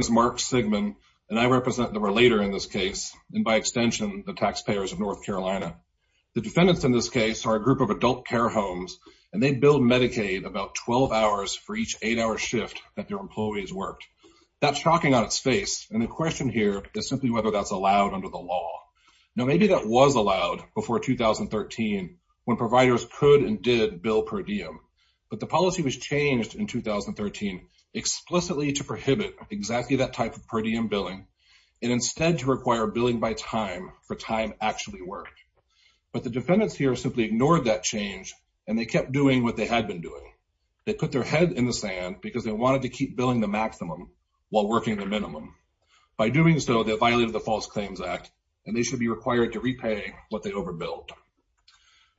My name is Mark Sigman, and I represent the relator in this case, and by extension, the taxpayers of North Carolina. The defendants in this case are a group of adult care homes, and they bill Medicaid about 12 hours for each eight-hour shift that their employees worked. That's shocking on its face, and the question here is simply whether that's allowed under the law. Now, maybe that was allowed before 2013, when providers could and did bill per diem, but the policy was changed in 2013 explicitly to prohibit exactly that type of per diem billing, and instead to require billing by time for time actually worked. But the defendants here simply ignored that change, and they kept doing what they had been doing. They put their head in the sand because they wanted to keep billing the maximum while working the minimum. By doing so, they violated the False Claims Act, and they should be required to repay what they overbilled.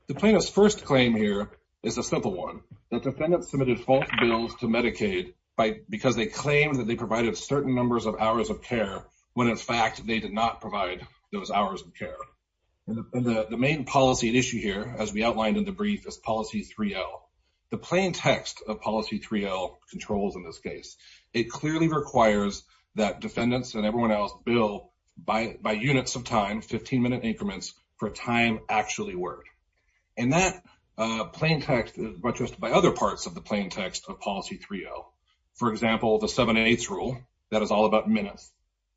The plaintiff's first claim here is a simple one, that defendants submitted false bills to Medicaid because they claimed that they provided certain numbers of hours of care, when in fact, they did not provide those hours of care. The main policy at issue here, as we outlined in the brief, is Policy 3L. The plain text of Policy 3L controls in this case. It clearly requires that defendants and everyone else bill by units of time, 15-minute increments, for time actually worked. And that plain text is buttressed by other parts of the plain text of Policy 3L. For example, the seven-eighths rule, that is all about minutes.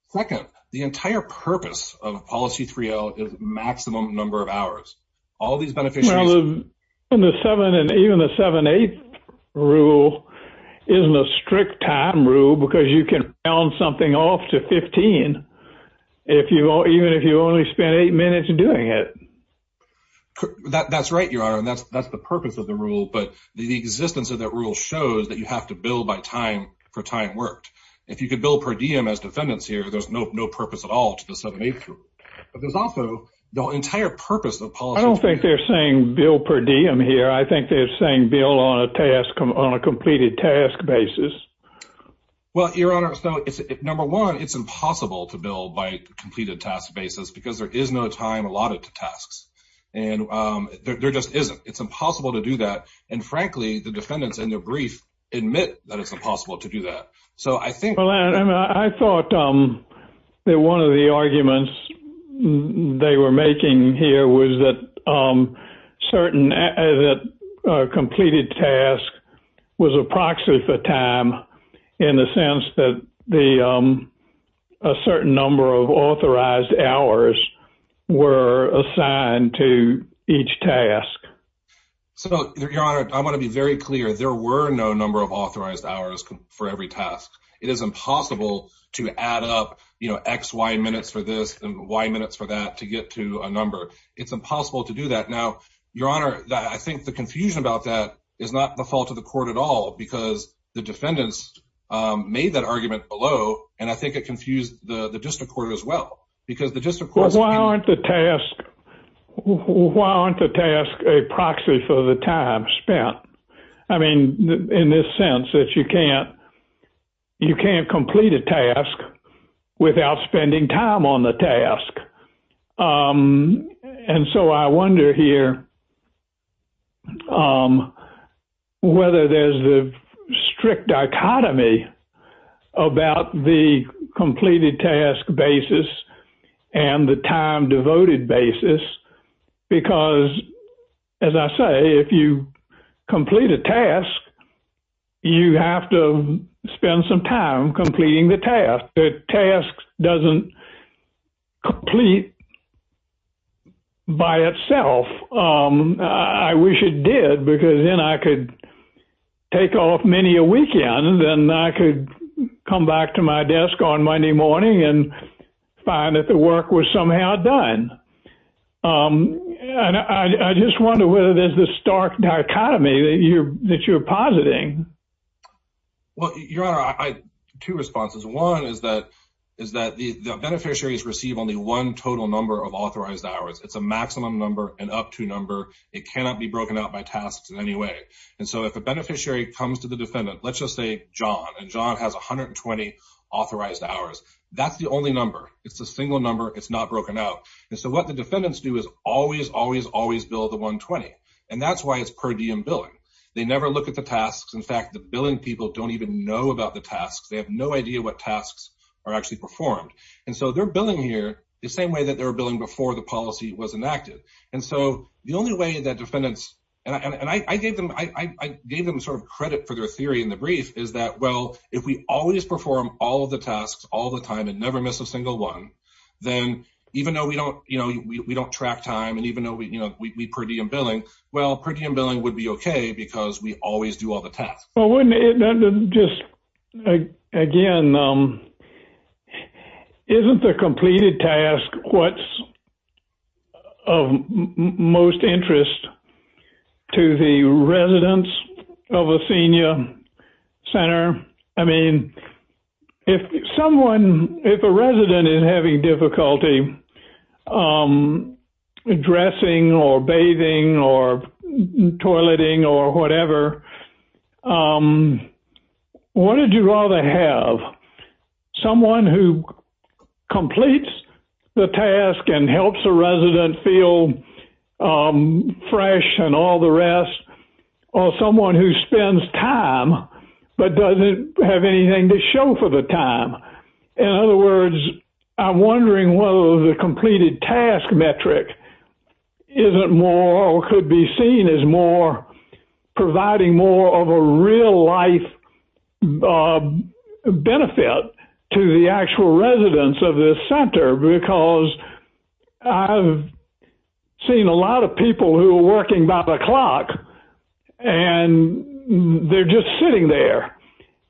Second, the entire purpose of Policy 3L is maximum number of hours. All of these beneficiaries... Well, even the seven-eighths rule isn't a strict time rule because you can round something off to 15, even if you only spent eight minutes doing it. That's right, Your Honor, and that's the purpose of the rule, but the existence of that rule shows that you have to bill by time, for time worked. If you could bill per diem as defendants here, there's no purpose at all to the seven-eighths rule. But there's also the entire purpose of Policy 3L. I don't think they're saying bill per diem here. I think they're saying bill on a completed task basis. Well, Your Honor, so number one, it's impossible to bill by completed task basis because there is no time allotted to tasks. And there just isn't. It's impossible to do that. And frankly, the defendants in their brief admit that it's impossible to do that. So I think... Well, I thought that one of the arguments they were making here was that completed task was a proxy for time in the sense that a certain number of authorized hours were assigned to each task. So, Your Honor, I want to be very clear. There were no number of authorized hours for every task. It is impossible to add up X, Y minutes for this and Y minutes for that to get to a number. It's impossible to do that. Now, Your Honor, I think the confusion about that is not the fault of the court at all, because the defendants made that argument below. And I think it confused the district court as well, because the district court... Why aren't the tasks a proxy for the time spent? I mean, in this sense that you can't determine whether there's a strict dichotomy about the completed task basis and the time devoted basis, because as I say, if you complete a task, you have to spend some time completing the task. The task doesn't complete by itself. I wish it did, because then I could take off many a weekend and I could come back to my desk on Monday morning and find that the work was somehow done. And I just wonder whether there's this stark dichotomy that you're positing. Well, Your Honor, two responses. One is that the beneficiaries receive only one total number of authorized hours. It's a maximum number, an up-to number. It cannot be broken out by tasks in any way. And so if a beneficiary comes to the defendant, let's just say John, and John has 120 authorized hours. That's the only number. It's a single number. It's not broken out. And so what the defendants do is always, always, always bill the 120. And that's why it's per diem billing. They never look at the tasks. In fact, the billing people don't even know about the tasks. They have no idea what tasks are actually performed. And so they're billing here the same way that they were billing before the policy was enacted. And so the only way that defendants, and I gave them sort of credit for their theory in the brief, is that, well, if we always perform all of the tasks all the time and never miss a single one, then even though we don't track time and even though we per diem billing, well, per diem billing would be okay because we always do all the tasks. Well, wouldn't it, just again, isn't the completed task what's of most interest to the residents of a senior center? I mean, if someone, if a resident is having difficulty dressing or bathing or toileting or whatever, what would you rather have? Someone who completes the task and helps a resident feel fresh and all the rest or someone who spends time but doesn't have anything to show for the time In other words, I'm wondering whether the completed task metric isn't more or could be seen as more providing more of a real life benefit to the actual residents of this center because I've seen a lot of people who are working by the clock and they're just sitting there.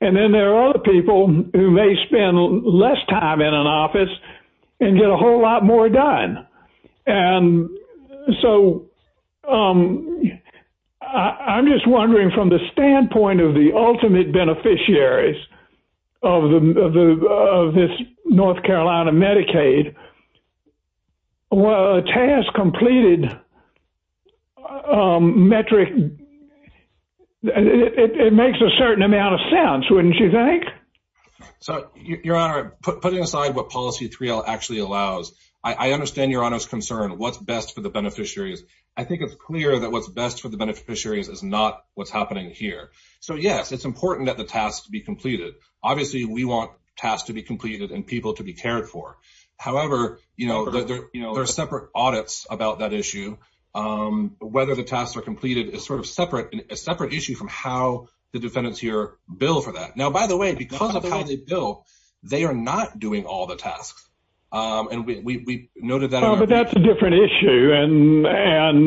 And then there are other people who may spend less time in an office and get a whole lot more done. And so I'm just wondering from the standpoint of the ultimate beneficiaries of this North Carolina Medicaid, well, a task completed metric, it makes a certain amount of sense, wouldn't you think? So Your Honor, putting aside what policy 3L actually allows, I understand Your Honor's concern, what's best for the beneficiaries. I think it's clear that what's best for the beneficiaries is not what's happening here. So yes, it's important that the tasks be completed. Obviously, we want tasks to be completed and people to be cared for. However, there are separate audits about that issue. Whether the tasks are completed is sort of a separate issue from how the defendants here bill for that. Now, by the way, because of how they bill, they are not doing all the tasks. And we noted that. But that's a different issue. And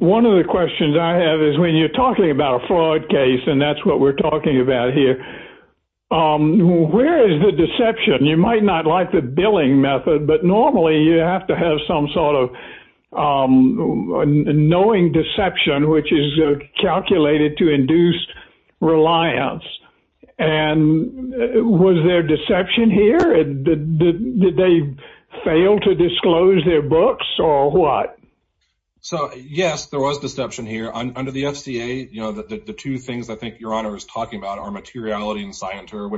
one of the questions I have is when you're talking about a fraud case, and that's what we're talking about here, where is the deception? You might not like the billing method, but normally you have to have some sort of knowing deception, which is calculated to induce reliance. And was there deception here? Did they fail to disclose their books or what? So yes, there was deception here. Under the FCA, you know, the two things I think Your Honor is talking about are materiality and scienter.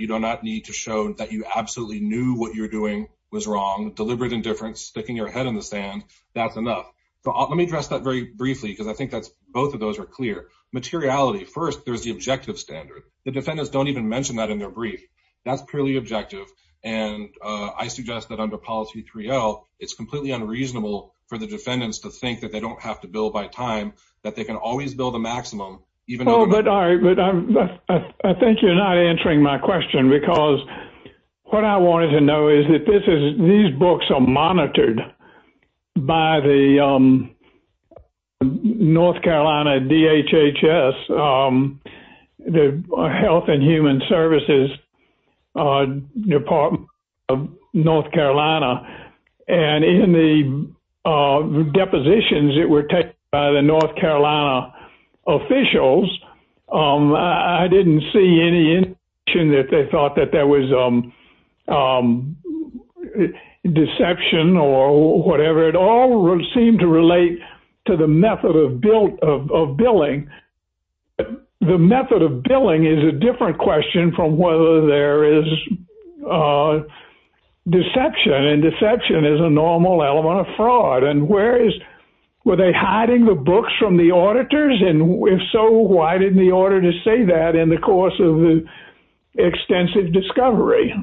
You do not need to show that you absolutely knew what you're doing was wrong. Deliberate indifference, sticking your head in the sand. That's enough. Let me address that very briefly, because I think that's both of those are clear. Materiality. First, there's the objective standard. The defendants don't even mention that in their brief. That's purely objective. And I suggest that under policy 3L, it's completely unreasonable for the defendants to think that they don't have to bill by time, that they can always bill the maximum. But I think you're not answering my question, because what I wanted to know is that these books are monitored by the North Carolina DHHS, the Health and Human Services Department of North Carolina. I didn't see any indication that they thought that there was deception or whatever. It all seemed to relate to the method of billing. The method of billing is a different question from whether there is deception. And deception is a normal element of fraud. And where is, were they hiding the order to say that in the course of the extensive discovery?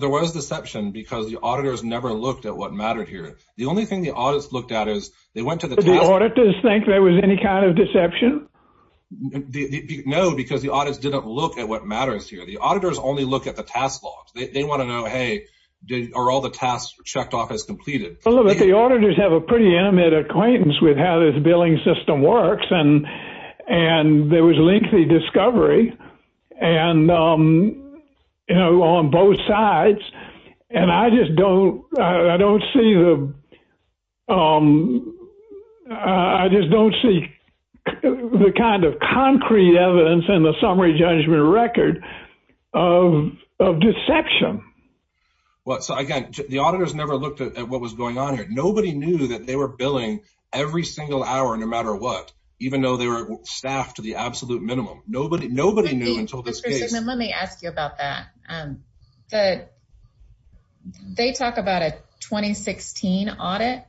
There was deception, because the auditors never looked at what mattered here. The only thing the auditors looked at is they went to the... Did the auditors think there was any kind of deception? No, because the auditors didn't look at what matters here. The auditors only look at the task logs. They want to know, hey, are all the tasks checked off as completed? Well, the auditors have a pretty intimate acquaintance with how this billing system works. And there was lengthy discovery on both sides. And I just don't see the kind of concrete evidence in the summary judgment record of deception. Well, so again, the auditors never looked at what was going on here. Nobody knew that they were billing every single hour, no matter what, even though they were staffed to the absolute minimum. Nobody knew until this case... Mr. Zegman, let me ask you about that. They talk about a 2016 audit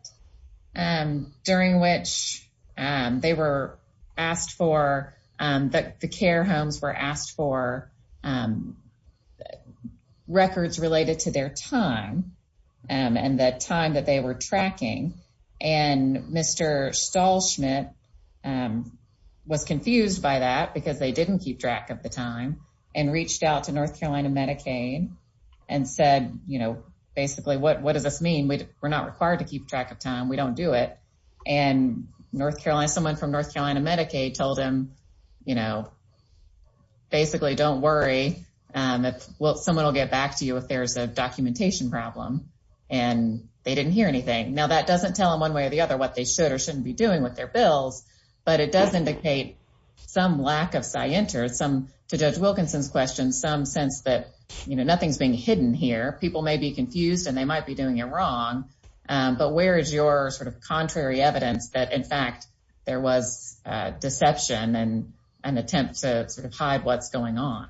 during which they were asked for... The care homes were asked for Mr. Stahlschmidt was confused by that because they didn't keep track of the time and reached out to North Carolina Medicaid and said, basically, what does this mean? We're not required to keep track of time. We don't do it. And North Carolina, someone from North Carolina Medicaid told him, basically, don't worry. Someone will get back to you if there's a or shouldn't be doing with their bills. But it does indicate some lack of science to judge Wilkinson's question, some sense that nothing's being hidden here. People may be confused and they might be doing it wrong. But where is your sort of contrary evidence that, in fact, there was deception and an attempt to sort of hide what's going on?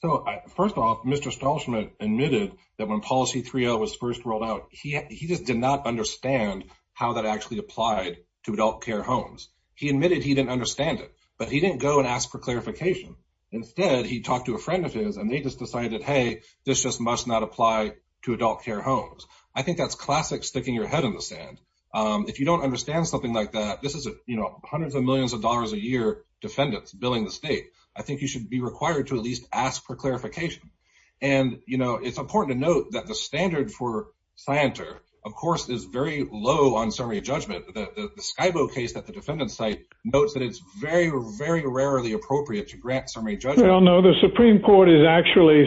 So first of all, Mr. Stahlschmidt admitted that when policy three was first rolled out, he just did not understand how that actually applied to adult care homes. He admitted he didn't understand it, but he didn't go and ask for clarification. Instead, he talked to a friend of his and they just decided, hey, this just must not apply to adult care homes. I think that's classic sticking your head in the sand. If you don't understand something like that, this is hundreds of millions of dollars a year defendants billing the state. I think you should be required to at least ask for clarification. And, you know, it's important to note that the standard for planter, of course, is very low on summary judgment. The Skybook case that the defendant site notes that it's very, very rarely appropriate to grant summary judge. I don't know. The Supreme Court has actually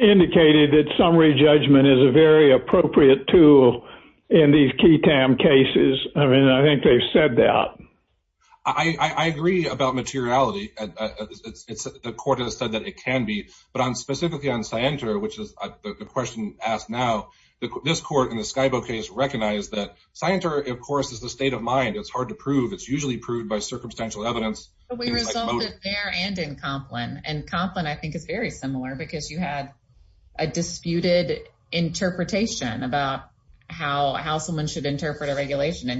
indicated that summary judgment is a very appropriate tool in these cases. I mean, I think they've said that. I agree about materiality. The court has said that it can be, but on specifically on Cienter, which is the question asked now, this court in the Skybook case recognized that Cienter, of course, is the state of mind. It's hard to prove. It's usually proved by circumstantial evidence. We resolved it there and in Complin. And Complin, I think, is very similar because you had a disputed interpretation about how someone should interpret a regulation.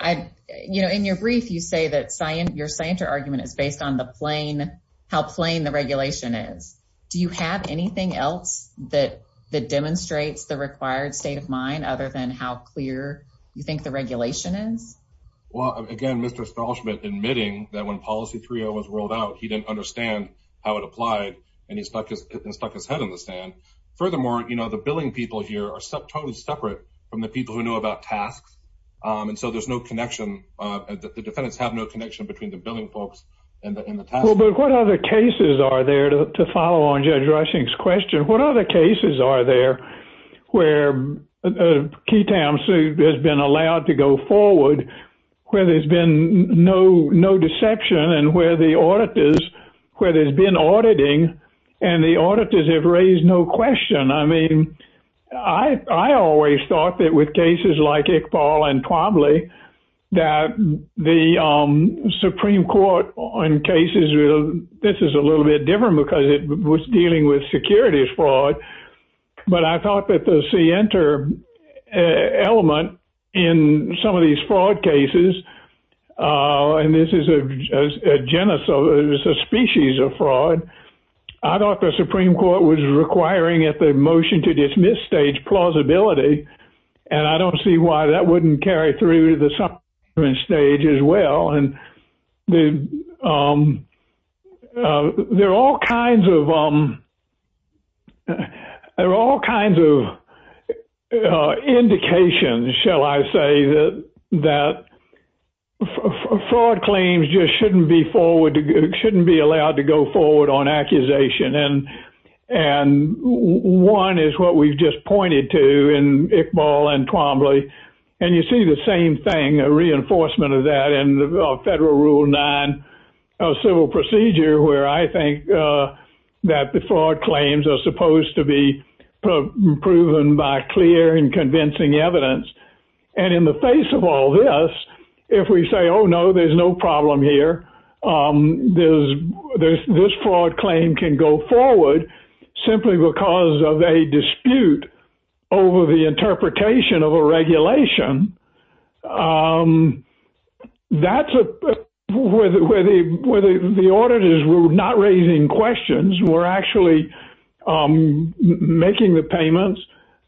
And, you know, in your brief, you say that your Cienter argument is based on how plain the regulation is. Do you have anything else that demonstrates the required state of mind other than how clear you think the regulation is? Well, again, Mr. Stolschmidt admitting that when policy 3.0 was rolled out, he didn't understand how it applied, and he stuck his head in the sand. Furthermore, you know, the billing people here are totally separate from the people who know about tasks. And so there's no connection. The defendants have no connection between the billing folks and the task. Well, but what other cases are there to follow on Judge Rushing's question? What other cases are there where a Keytown suit has been allowed to go forward where there's been no deception and where the auditors, where there's been auditing and the auditors have raised no question? I mean, I always thought that with cases like Iqbal and Twombly, that the Supreme Court on cases, this is a little bit different because it was dealing with securities fraud. But I thought that the Cienter element in some of these fraud cases, and this is a genus of, it's a species of fraud. I thought the Supreme Court was requiring at the motion to dismiss stage plausibility. And I don't see why that wouldn't carry through to the subpoena stage as well. And there are all kinds of, there are all kinds of indications, shall I say, that fraud claims just shouldn't be forward, shouldn't be allowed to go forward on accusation. And one is what we've just pointed to in Iqbal and Twombly. And you see the same thing, a reinforcement of that in the Federal Rule 9 civil procedure, where I think that the fraud claims are supposed to be proven by clear and convincing evidence. And in the face of all this, if we say, oh, no, there's no problem here. This fraud claim can go forward simply because of a dispute over the interpretation of a regulation. That's where the auditors were not raising questions. We're actually making the payments.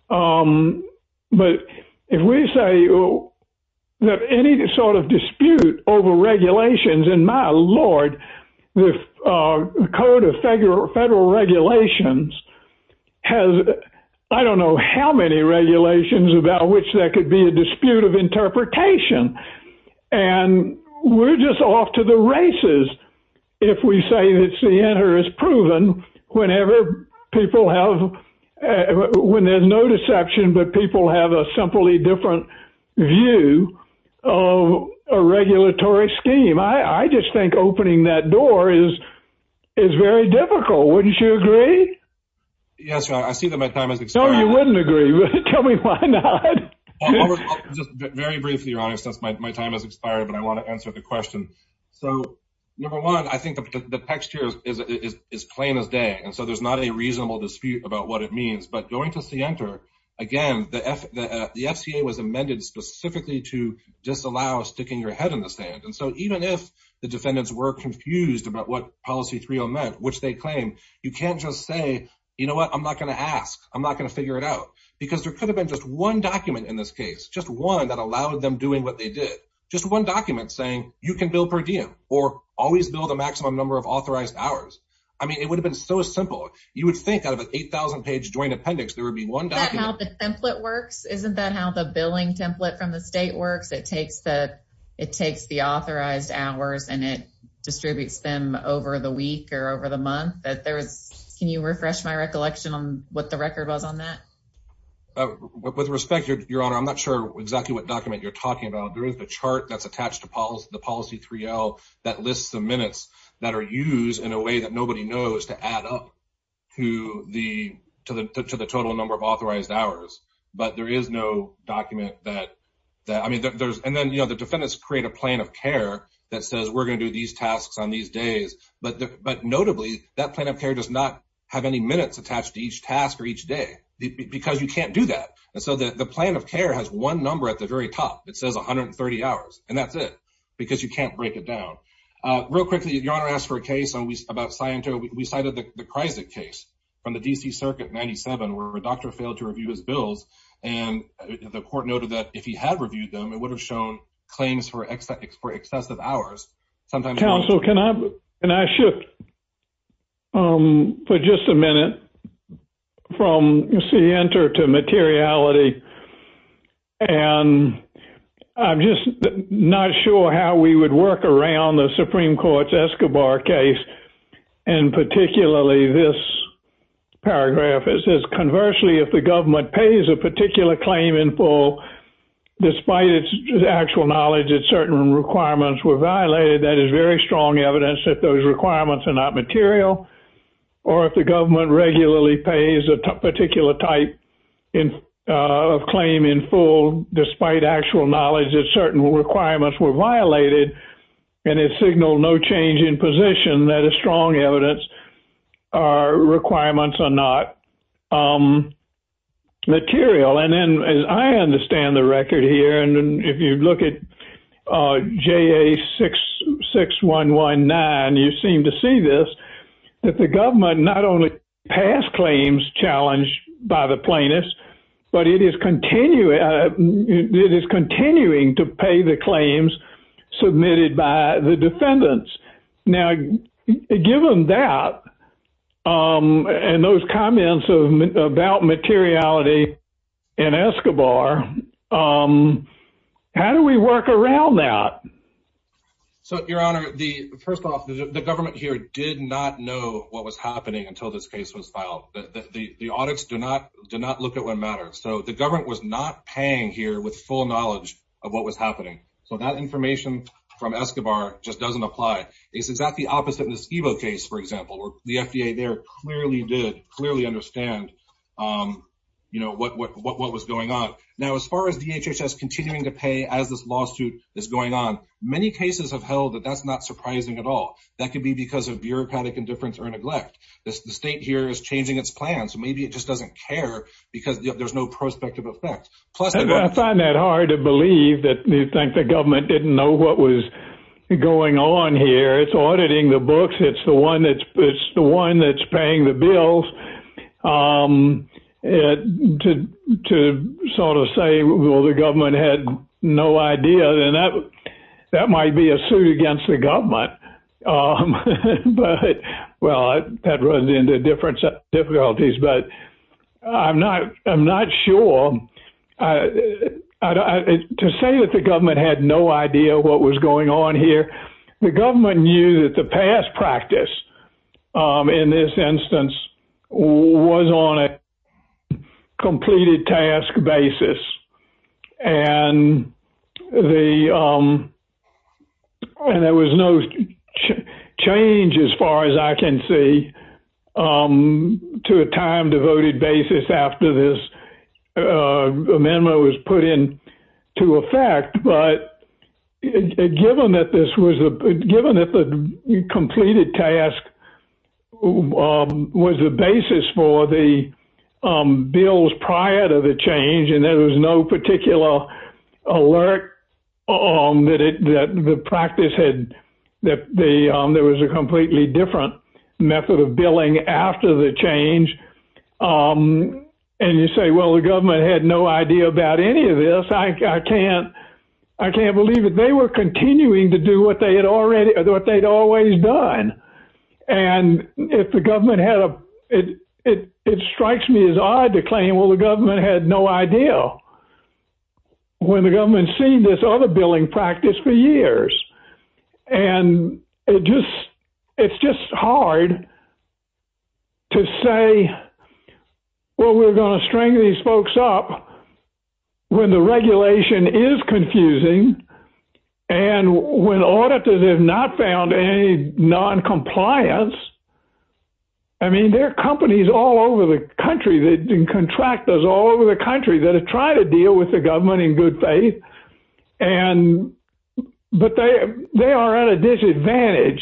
But if we say that any sort of dispute over regulations, and my lord, the Code of Federal Regulations has, I don't know how many regulations about which there could be a dispute of interpretation. And we're just off to the races if we say that CNR has proven whenever people have, when there's no deception, but people have a simply different view of a regulatory scheme. I just think opening that door is very difficult. Wouldn't you agree? Yes, I see that my time has expired. No, you wouldn't agree with it. Tell me why not. Very briefly, your honor, since my time has expired, but I want to answer the question. So number one, I think the text here is plain as day. And so there's not a reasonable dispute about what it means, but going to CNR, again, the FCA was amended specifically to disallow sticking your head in the sand. And so even if the defendants were confused about what policy 3L meant, which they claim, you can't just say, you know what, I'm not going to ask. I'm not going to figure it out. Because there could have been just one document in this case, just one that allowed them doing what they did. Just one document saying you can build per diem or always build a maximum number of authorized hours. I mean, it would have been so simple. You would think out of an 8,000 page joint appendix, there would be one document. Is that how the template works? Isn't that how the billing template from the state works? It takes the authorized hours and it distributes them over the week or over the month? Can you refresh my recollection on what the record was on that? With respect, your honor, I'm not sure exactly what document you're talking about. There is a chart that's attached to the policy 3L that lists the minutes that are used in a way that nobody knows to add up to the total number of authorized hours. But there is no document that, I mean, and then, you know, the defendants create a plan of care that says we're going to do these tasks on these days. But notably, that plan of care does not have any minutes attached to each task or each day because you can't do that. And so the plan of care has one number at the very top. It says 130 hours and that's it because you can't break it down. Real quickly, your honor asked for a case about Sciento. We cited the Kreisler case from the D.C. circuit in 97 where a doctor failed to review his bills and the court noted that if he had reviewed them, it would have shown claims for excessive hours. Counsel, can I shift for just a minute from Sciento to materiality? And I'm just not sure how we would work around the Supreme Court's Escobar case and particularly this paragraph. It says, conversely, if the government pays a particular claim in full despite its actual knowledge that certain requirements were violated, that is very strong evidence that those requirements are not material. Or if the government regularly pays a particular type of claim in full despite actual knowledge that certain requirements were violated and it signaled no change in position, that is strong evidence our requirements are not material. And then as I understand the record here and if you look at JA-6119, you seem to see this, that the government not only passed claims challenged by the plaintiffs, but it is continuing to pay the claims submitted by the defendants. Now, given that and those comments about materiality in Escobar, how do we work around that? So, Your Honor, first off, the government here did not know what was happening until this case was filed. The audits do not look at what matters. So, the government was not paying here with full knowledge of what was happening. So, that information from Escobar just does not apply. It is exactly opposite in the Escobar case, for example, where the FDA there clearly did, clearly understand what was going on. Now, as far as DHHS continuing to pay as this lawsuit is going on, many cases have held that that is not surprising at all. That could be because of bureaucratic indifference or neglect. The state here is changing its plan. So, maybe it just does not care because there is no prospective effect. I find that hard to believe that you think the government did not know what was going on here. It is auditing the books. It is the one that is paying the bills. To sort of say, well, the government had no idea, then that might be a suit against the government. But, well, that runs into different difficulties, but I am not sure. To say that the government had no idea what was going on here, the government knew that the past practice in this instance was on a completed task basis. There was no change, as far as I can see, to a time-devoted basis after this amendment was put into effect. But, given that the completed task was the basis for the bills prior to the change and there was no particular alert that the practice had, that there was a completely different method of billing after the change, and you say, well, the government had no idea about any of this, I cannot believe that they were continuing to do what they had always done. It strikes me as odd to claim, well, the government had no idea when the government has seen this other billing practice for years. It is just hard to say, well, we are going to string these folks up when the regulation is confusing and when auditors have not found any non-compliance. I mean, there are companies all over the country, contractors all over the country that have tried to deal with the government in good faith, but they are at a disadvantage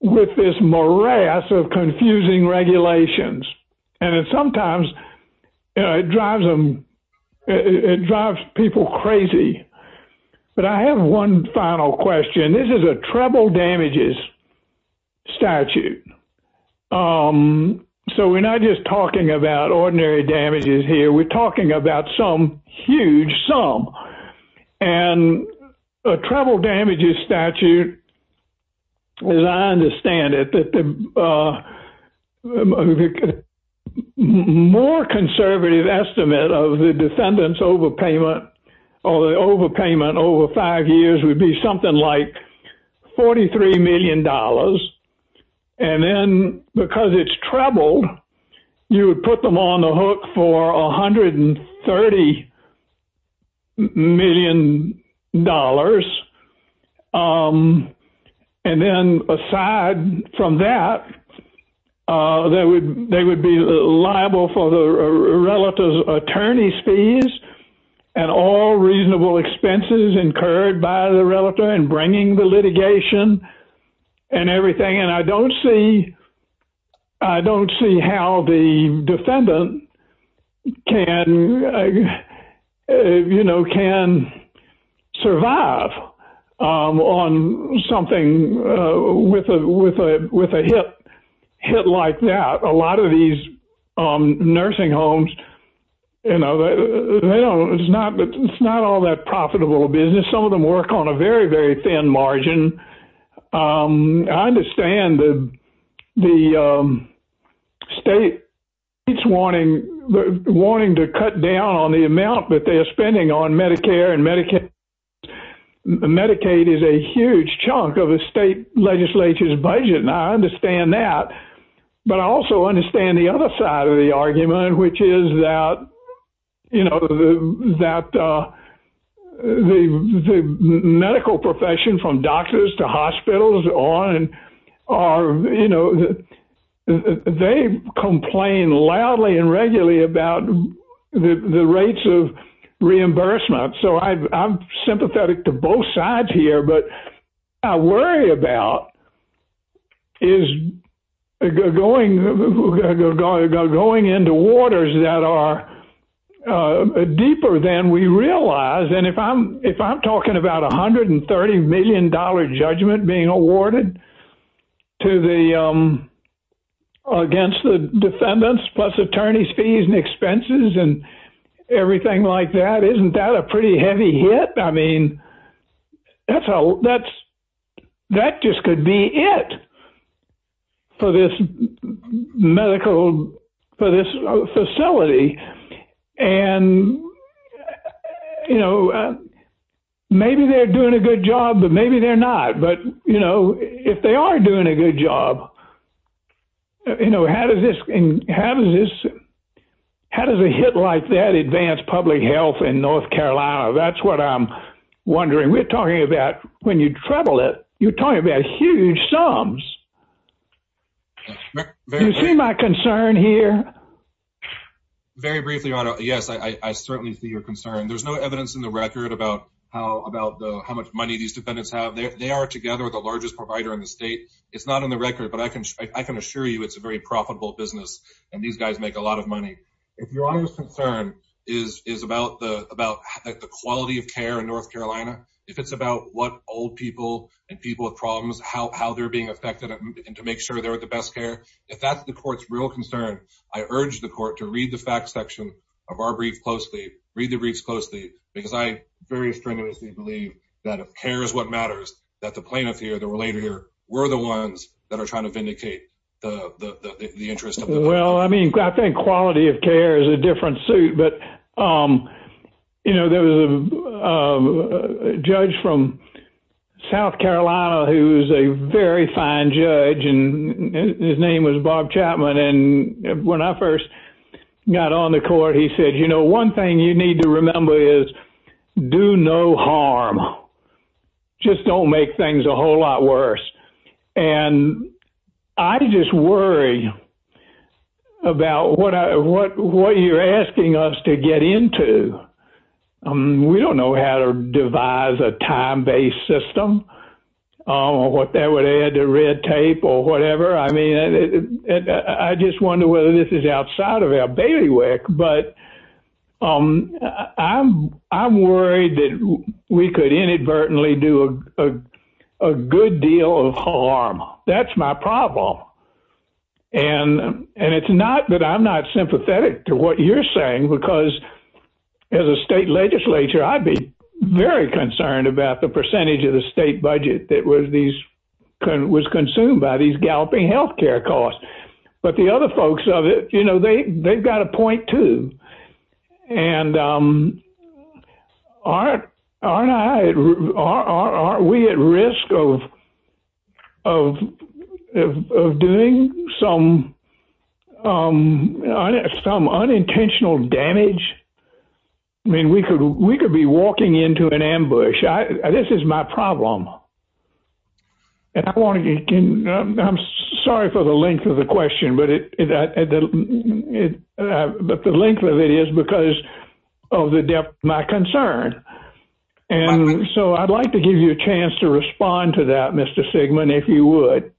with this morass of confusing regulations. And sometimes it drives people crazy. But I have one final question. This is a treble damages statute. So we are not just talking about ordinary damages here, we are talking about some huge sum. And a treble damages statute, as I understand it, the more conservative estimate of the defendant's overpayment or the overpayment over five years would be something like $43 million. And then because it is trebled, you would put them on the hook for $130 million. And then aside from that, they would be liable for the relative's attorney's fees and all reasonable expenses incurred by the relative in bringing the litigation and everything. And I don't see how the defendant can survive on something with a hit like that. A lot of these nursing homes, it's not all that profitable business. Some of them work on a very, thin margin. I understand the state wanting to cut down on the amount that they're spending on Medicare and Medicaid. Medicaid is a huge chunk of the state legislature's budget. And I understand from doctors to hospitals, they complain loudly and regularly about the rates of reimbursement. So I'm sympathetic to both sides here. But I worry about going into waters that are realized. And if I'm talking about $130 million judgment being awarded against the defendants plus attorney's fees and expenses and everything like that, isn't that a pretty heavy hit? That just could be it for this facility. And maybe they're doing a good job, but maybe they're not. But if they are doing a good job, how does a hit like that advance public health in North Carolina? That's what I'm wondering. We're talking about, when you treble it, you're talking about huge sums. Do you see my concern here? Very briefly, Your Honor. Yes, I certainly see your concern. There's no evidence in the record about how much money these defendants have. They are together the largest provider in the state. It's not in the record, but I can assure you it's a very profitable business. And these guys make a lot of money. If Your Honor's concern is about the quality of care in North Carolina, if it's about what old people and people with problems, how they're being affected and to make sure they're at the best care, if that's the court's real concern, I urge the court to read the facts section of our brief closely, read the briefs closely, because I very strenuously believe that care is what matters, that the plaintiff here, the relator here, we're the ones that are trying to vindicate the interest. Well, I mean, I think quality of care is a different suit. But, you know, there was a judge from South Carolina who's a very fine judge, and his name was Bob Chapman. And when I first got on the court, he said, you know, one thing you need to remember is do no harm. Just don't make things a whole lot worse. And I just worry about what you're asking us to get into. We don't know how to devise a time-based system, or what that would add to red tape or whatever. I mean, I just wonder whether this is outside of our bailiwick. But I'm worried that we could inadvertently do a good deal of harm. That's my problem. And it's not that I'm not sympathetic to what you're saying, because as a state legislature, I'd be very concerned about the percentage of the state budget that was consumed by these galloping health care costs. But the other folks of it, you know, they've got a point too. And aren't we at risk of doing some unintentional damage? I mean, we could be walking into an ambush. This is my problem. And I'm sorry for the length of the question, but the length of it is because of the depth of my concern. And so I'd like to give you a chance to respond to that, Mr. Sigmund, if you would.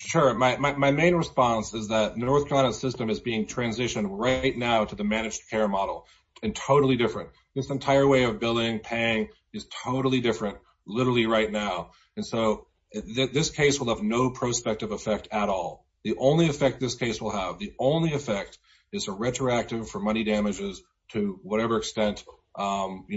Sure. My main response is that the North Carolina system is being transitioned right now to the managed care model, and totally different. This entire way of billing, paying is totally different, literally right now. And so this case will have no prospective effect at all. The only effect this case will have, the only effect is a retroactive for money damages to whatever extent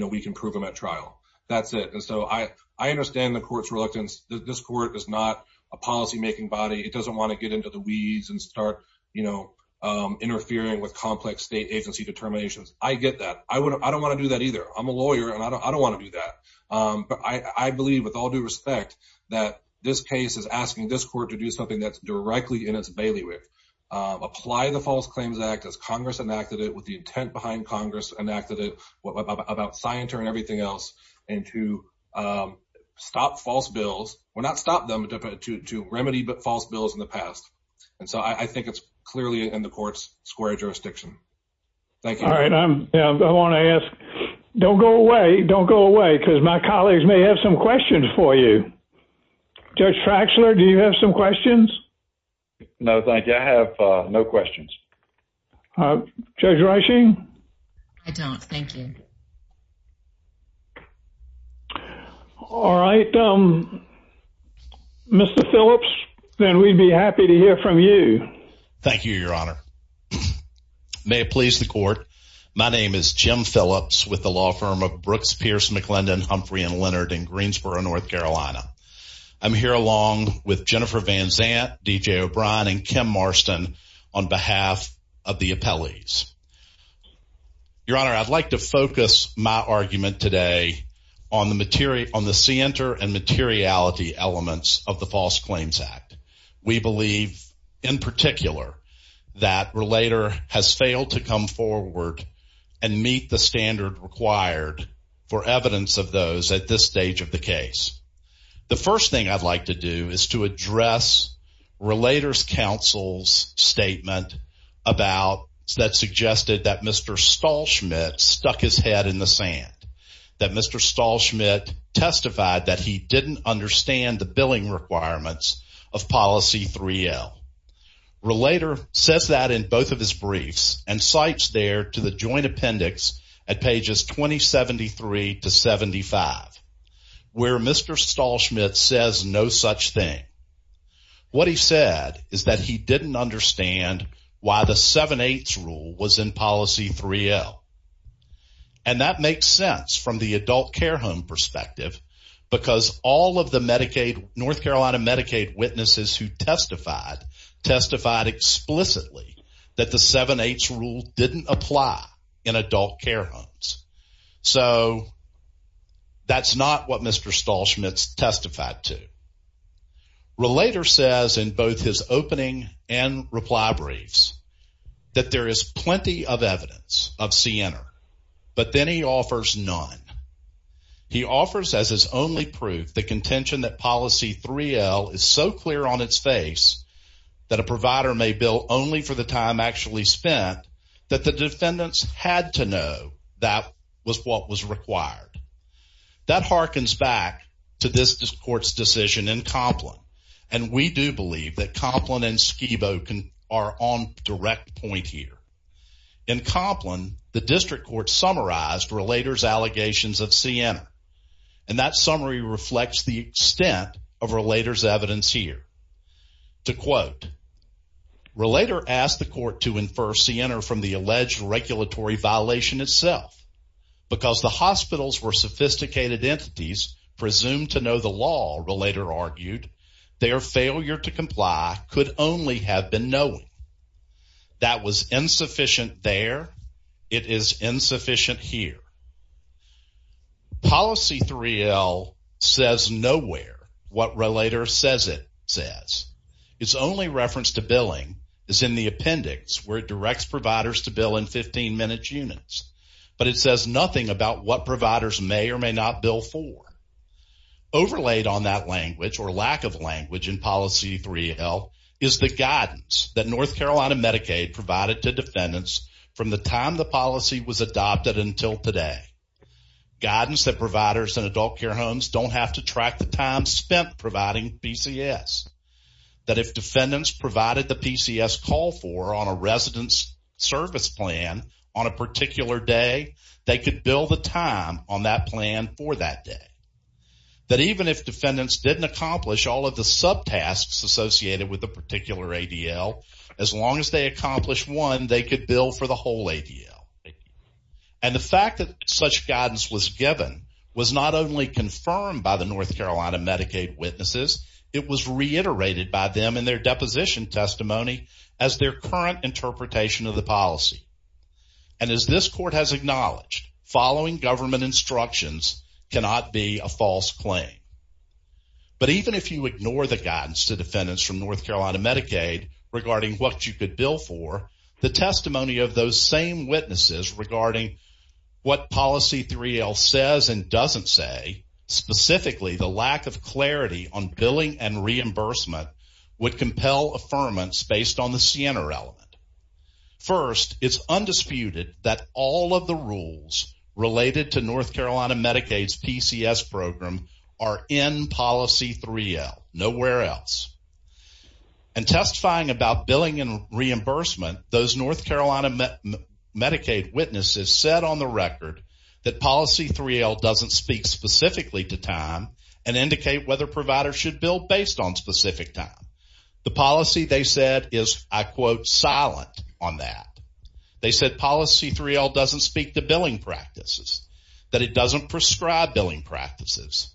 we can prove them at trial. That's it. And so I understand the court's reluctance. This court is not a policymaking body. It doesn't want to get into the weeds and start interfering with complex state agency determinations. I get that. I don't want to do that either. I'm a lawyer, and I don't want to do that. But I believe with all due respect that this case is asking this court to do something that's directly in its bailiwick. Apply the False Claims Act as Congress enacted it, with the intent behind Congress enacted it, what about Scienter and everything else, and to stop false bills. Well, not stop them, but to remedy false bills in the past. And so I think it's clearly in the court's square jurisdiction. Thank you. All right. I want to ask, don't go away, don't go away, because my colleagues may have some questions for you. Judge Fraxler, do you have some questions? No, thank you. I have no questions. Judge Reisching? I don't. Thank you. All right. Mr. Phillips, then we'd be happy to hear from you. Thank you, Your Honor. May it please the court. My name is Jim Phillips with the law firm of Brooks, Pierce, McClendon, Humphrey & Leonard in Greensboro, North Carolina. I'm here along with Jennifer Van Zandt, D.J. O'Brien, and Kim Marston on behalf of the appellees. Your Honor, I'd like to focus my argument today on the materi- on the scienter and materiality elements of the False Claims Act. We believe, in particular, that Relator has failed to come forward and meet the standard required for evidence of those at this stage of the case. The first thing I'd like to do is to address Relator's counsel's statement about- that suggested that Mr. Stahlschmidt stuck his head in the sand. That Mr. Stahlschmidt testified that he didn't understand the billing requirements of Policy 3L. Relator says that in both of his briefs and cites there to the joint appendix at pages 2073 to 75, where Mr. Stahlschmidt says no such thing. What he said is that he didn't understand why the 7-8 rule was in Policy 3L. And that makes sense from the adult care home perspective because all of the Medicaid- North Carolina Medicaid witnesses who testified, testified explicitly that the 7-8 rule didn't apply in adult care homes. So, that's not what Mr. Stahlschmidt testified to. Relator says in both his opening and reply briefs that there is plenty of evidence of CNR, but then he offers none. He offers as his only proof the contention that Policy 3L is so clear on its face that a provider may bill only for the time actually spent that the defendants had to know that was what was required. That harkens back to this court's decision in Coplin, and we do believe that Coplin and Schiebo are on direct point here. In Coplin, the district court summarized Relator's allegations of CNR, and that summary reflects the extent of Relator's evidence here. To quote, Relator asked the court to infer CNR from the alleged regulatory violation itself. Because the hospitals were sophisticated entities presumed to know the law, Relator argued, their failure to comply could only have been knowing. That was insufficient there. It is 3L says nowhere what Relator says it says. Its only reference to billing is in the appendix, where it directs providers to bill in 15-minute units, but it says nothing about what providers may or may not bill for. Overlaid on that language or lack of language in Policy 3L is the guidance that North Carolina Medicaid provided to defendants from the time the policy was adopted until today. Guidance that providers in adult care homes don't have to track the time spent providing PCS. That if defendants provided the PCS call for on a resident's service plan on a particular day, they could bill the time on that plan for that day. That even if defendants didn't accomplish all of the subtasks associated with the particular ADL, as long as they accomplished one, they could bill for the whole ADL. And the fact that such guidance was given was not only confirmed by the North Carolina Medicaid witnesses, it was reiterated by them in their deposition testimony as their current interpretation of the policy. And as this court has acknowledged, following government instructions cannot be a false claim. But even if you ignore the guidance to defendants from North Carolina Medicaid regarding what you could bill for, the testimony of those same witnesses regarding what Policy 3L says and doesn't say, specifically the lack of clarity on billing and reimbursement, would compel affirmance based on the CNR element. First, it's undisputed that all of the rules related to North Carolina Medicaid's PCS program are in Policy 3L, nowhere else. And testifying about billing and reimbursement, those North Carolina Medicaid witnesses said on the record that Policy 3L doesn't speak specifically to time and indicate whether providers should bill based on specific time. The policy they said is, I quote, silent on that. They said Policy 3L doesn't speak to billing practices, that it doesn't prescribe billing practices.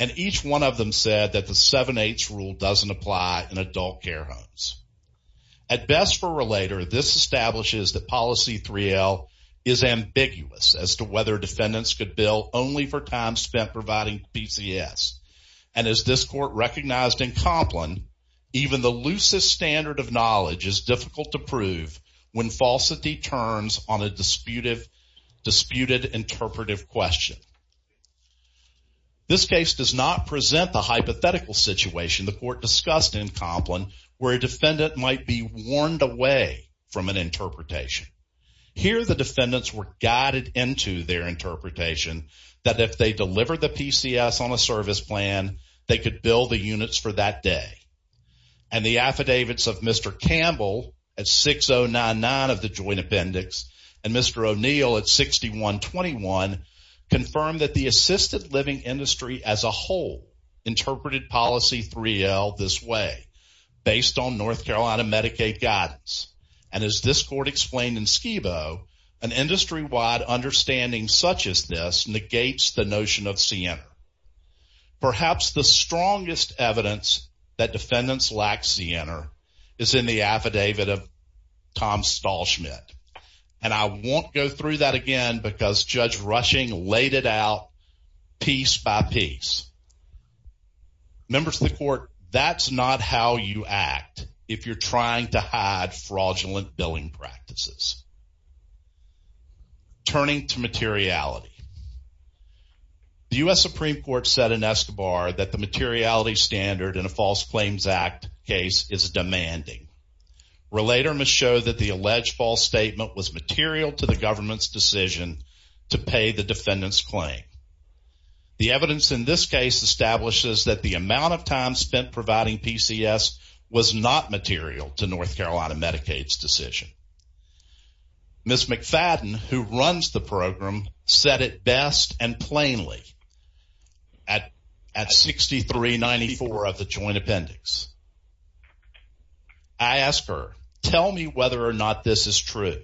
And each one of them said that the 7-8 rule doesn't apply in adult care homes. At best for a relator, this establishes that Policy 3L is ambiguous as to whether defendants could bill only for time spent providing PCS. And as this court recognized in Complin, even the loosest standard of knowledge is difficult to prove when falsity turns on a disputed interpretive question. This case does not present the hypothetical situation the court discussed in Complin where a defendant might be warned away from an interpretation. Here, the defendants were guided into their interpretation that if they deliver the PCS on a service plan, they could bill the units for that day. And the affidavits of Mr. Campbell at 6099 of the joint appendix and Mr. O'Neill at 6121 confirmed that the assisted living industry as a whole interpreted Policy 3L this way, based on North Carolina Medicaid guidance. And as this court explained in Scebo, an industry-wide understanding such as this negates the notion of CNR. Perhaps the strongest evidence that defendants lack CNR is in the affidavit of Tom Stahlschmidt. And I won't go through that again because Judge Rushing laid it out piece by piece. Members of the court, that's not how you act if you're trying to hide fraudulent billing practices. Turning to materiality. The U.S. Supreme Court said in Escobar that the materiality standard in a False Claims Act case is demanding. Relater must show that the alleged false statement was material to the government's decision to pay the defendant's claim. The evidence in this case establishes that the amount of time spent providing PCS was not material to North Carolina Medicaid's decision. Ms. McFadden, who best and plainly at 6394 of the joint appendix, I asked her, tell me whether or not this is true,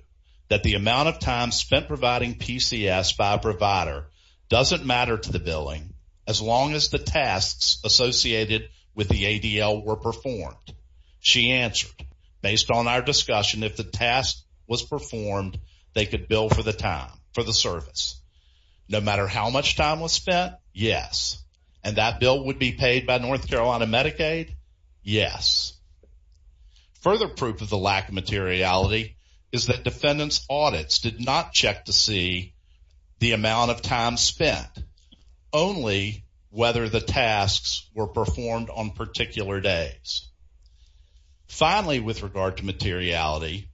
that the amount of time spent providing PCS by a provider doesn't matter to the billing as long as the tasks associated with the ADL were performed. She answered, based on our discussion, if the task was performed, they could bill for the time, for the service. No matter how much time was spent, yes. And that bill would be paid by North Carolina Medicaid, yes. Further proof of the lack of materiality is that defendant's audits did not check to see the amount of time spent, only whether the tasks were performed on particular days. Finally, with regard to materiality,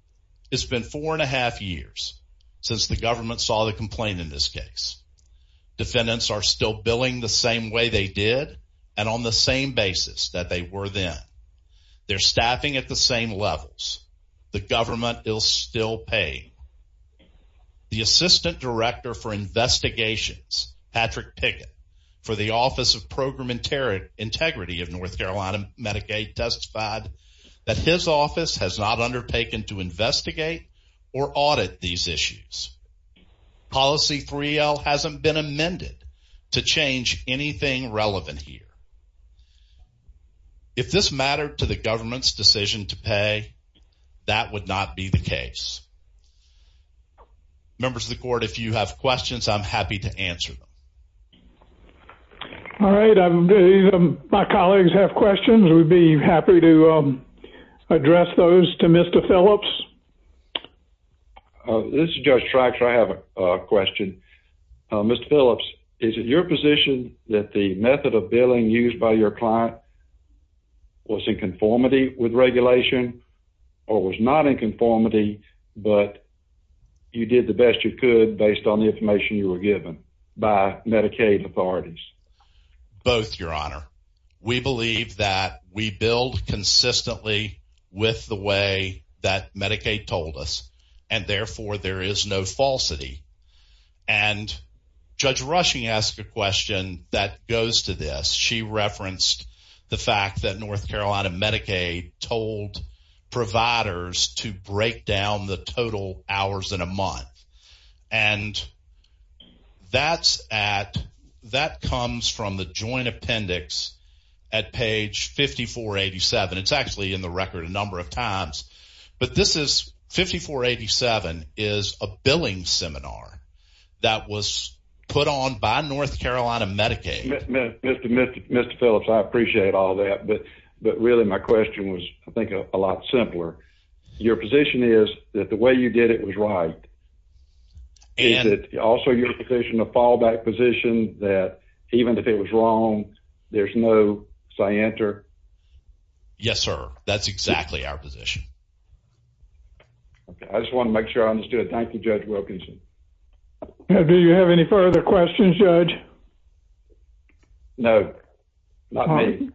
it's been four and a half years since the government saw the complaint in this case. Defendants are still billing the same way they did and on the same basis that they were then. They're staffing at the same levels. The government is still paying. The Assistant Director for Investigations, Patrick Pickett, for the Office of Program Integrity of North Carolina Medicaid testified that his office has not undertaken to investigate or audit these issues. Policy 3L hasn't been amended to change anything relevant here. If this mattered to the government's decision to pay, that would not be the case. Members of the Court, if you have questions, I'm happy to answer them. All right. I believe my colleagues have questions. We'd be happy to address those to Mr. Phillips. This is Judge Trax. I have a question. Mr. Phillips, is it your position that the method of billing used by your client was in conformity with regulation or was not in conformity with but you did the best you could based on the information you were given by Medicaid authorities? Both, Your Honor. We believe that we billed consistently with the way that Medicaid told us and therefore there is no falsity. Judge Rushing asked a question that goes to this. She referenced the fact that North Carolina Medicaid told providers to break down the total hours in a month and that comes from the joint appendix at page 5487. It's actually in the record a number of times but this is 5487 is a billing seminar that was put on by North Carolina Medicaid. Mr. Phillips, I appreciate all that but really my question was, I think, a lot simpler. Your position is that the way you did it was right. Is it also your position, a fallback position, that even if it was wrong there's no scienter? Yes, sir. That's exactly our position. I just want to make sure I understood. Thank you, Judge Wilkinson. Do you have any further questions, Judge? No, not me.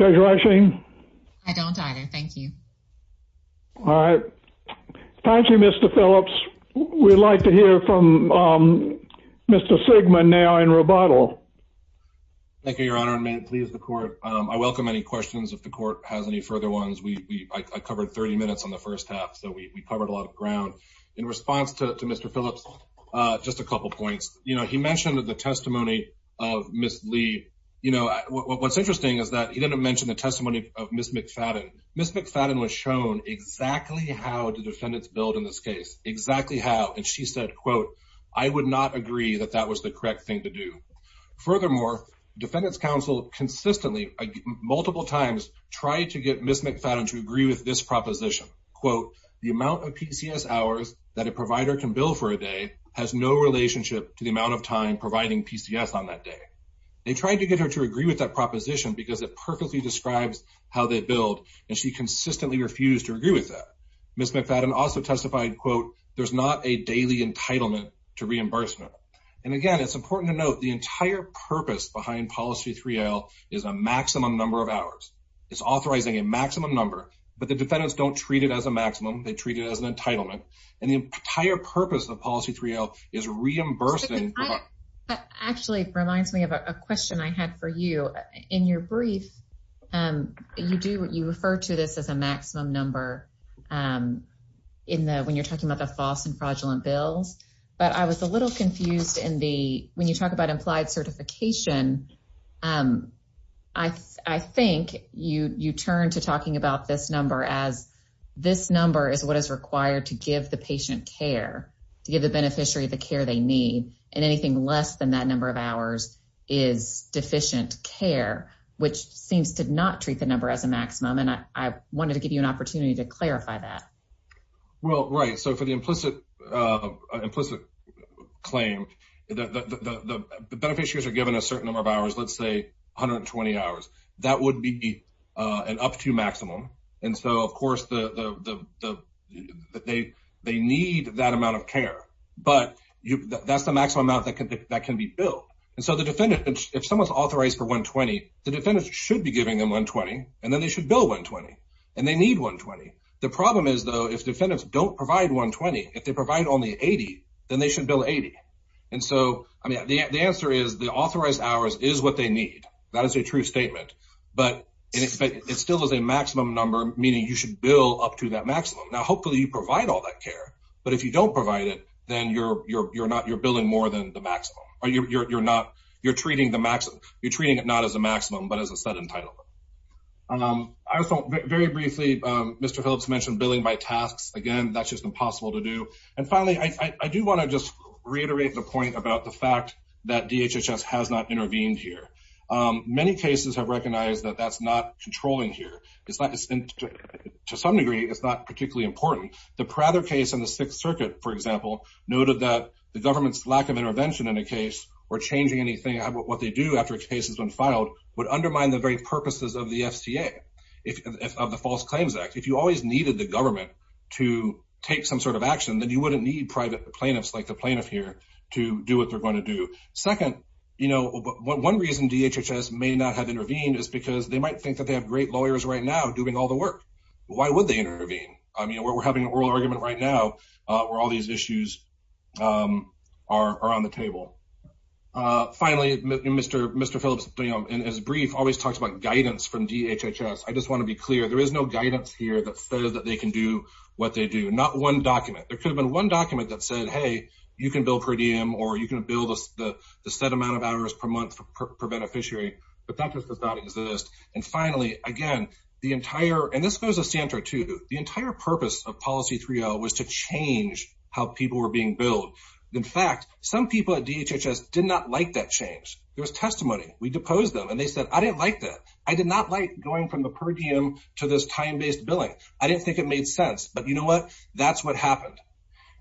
Judge Rushing? I don't either. Thank you. All right. Thank you, Mr. Phillips. We'd like to hear from Mr. Sigman now in rebuttal. Thank you, Your Honor. May it please the court. I welcome any questions if the court has any further ones. I covered 30 minutes on the first half so we covered a lot of ground. In response to Mr. Phillips, just a couple points. You know, he mentioned the testimony of Ms. Lee. What's interesting is that he didn't mention the testimony of Ms. McFadden. Ms. McFadden was shown exactly how the defendants billed in this case, exactly how, and she said, quote, I would not agree that that was the correct thing to do. Furthermore, defendants counsel consistently, multiple times, tried to get Ms. McFadden to agree with this that a provider can bill for a day has no relationship to the amount of time providing PCS on that day. They tried to get her to agree with that proposition because it perfectly describes how they billed and she consistently refused to agree with that. Ms. McFadden also testified, quote, there's not a daily entitlement to reimbursement. And again, it's important to note the entire purpose behind policy 3L is a maximum number of hours. It's authorizing a maximum. They treat it as an entitlement. And the entire purpose of policy 3L is reimbursing. Actually, it reminds me of a question I had for you. In your brief, you refer to this as a maximum number when you're talking about the false and fraudulent bills. But I was a little confused in the, when you talk about implied certification, I think you turn to talking about this number as this number is what is required to give the patient care, to give the beneficiary the care they need. And anything less than that number of hours is deficient care, which seems to not treat the number as a maximum. And I wanted to give you an opportunity to clarify that. Well, right. So for the implicit claim, the beneficiaries are given a certain number of hours, let's say 120 hours. That would be an up to maximum. And so of course, they need that amount of care, but that's the maximum amount that can be billed. And so the defendant, if someone's authorized for 120, the defendant should be giving them 120 and then they should bill 120 and they need 120. The problem is though, if defendants don't provide 120, if they provide only 80, then they should bill 80. And so, I mean, the answer is the authorized hours is what they need. That is a true statement, but it still is a maximum number, meaning you should bill up to that maximum. Now, hopefully you provide all that care, but if you don't provide it, then you're billing more than the maximum. You're treating it not as a maximum, but as a set entitlement. Very briefly, Mr. Phillips mentioned billing by tasks. Again, that's just impossible to do. And finally, I do want to just reiterate the point about the fact that DHHS has not intervened here. Many cases have recognized that that's not controlling here. To some degree, it's not particularly important. The Prather case in the Sixth Circuit, for example, noted that the government's lack of intervention in a case or changing anything, what they do after a case has been filed would undermine the very purposes of the FCA, of the False Claims Act. If you always needed the government to take some sort of action, then you wouldn't need private plaintiffs like the plaintiff here to do what they're going to do. Second, one reason DHHS may not have intervened is because they might think that they have great lawyers right now doing all the work. Why would they intervene? We're having an oral argument right now where all these issues are on the table. Finally, Mr. Phillips, as brief, always talks about guidance from DHHS. I just want to be clear. There is no guidance here that says that they can do what they do. Not one document. There could have been one document that said, hey, you can bill per diem, or you can bill the set amount of hours per month per beneficiary, but that just does not exist. Finally, again, the entire, and this goes to Santa too, the entire purpose of Policy 3L was to change how people were being billed. In fact, some people at DHHS did not like that change. There was testimony. We deposed them, and they said, I didn't like that. I did not like going from the per diem to this time-based billing. I didn't think it made sense, but you know what? That's what happened.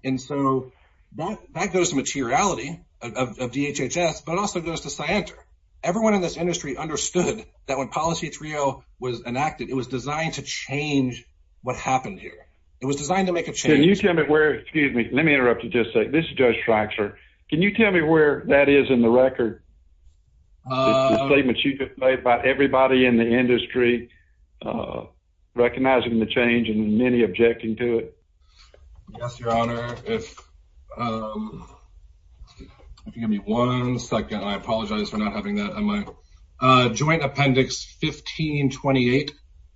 That goes to materiality of DHHS, but it also goes to Santa. Everyone in this industry understood that when Policy 3L was enacted, it was designed to change what happened here. It was designed to make a change. Can you tell me where, excuse me, let me interrupt you just a second. This is Judge Traxler. Can you tell me where that is in the record? The statements you've made about everybody in the industry recognizing the change and many objecting to it. Yes, Your Honor. Give me one second. I apologize for not having that on my... Joint Appendix 1528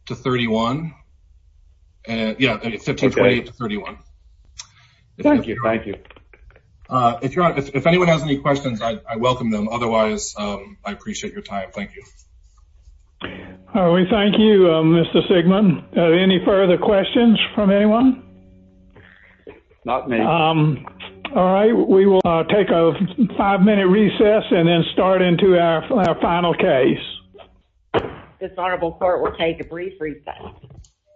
to 31. Yeah, 1528 to 31. Thank you. Thank you. If anyone has any questions, I welcome them. Otherwise, I appreciate your time. Thank you. We thank you, Mr. Sigmon. Any further questions from anyone? Not me. All right. We will take a five-minute recess and then start into our final case. This Honorable Court will take a brief recess.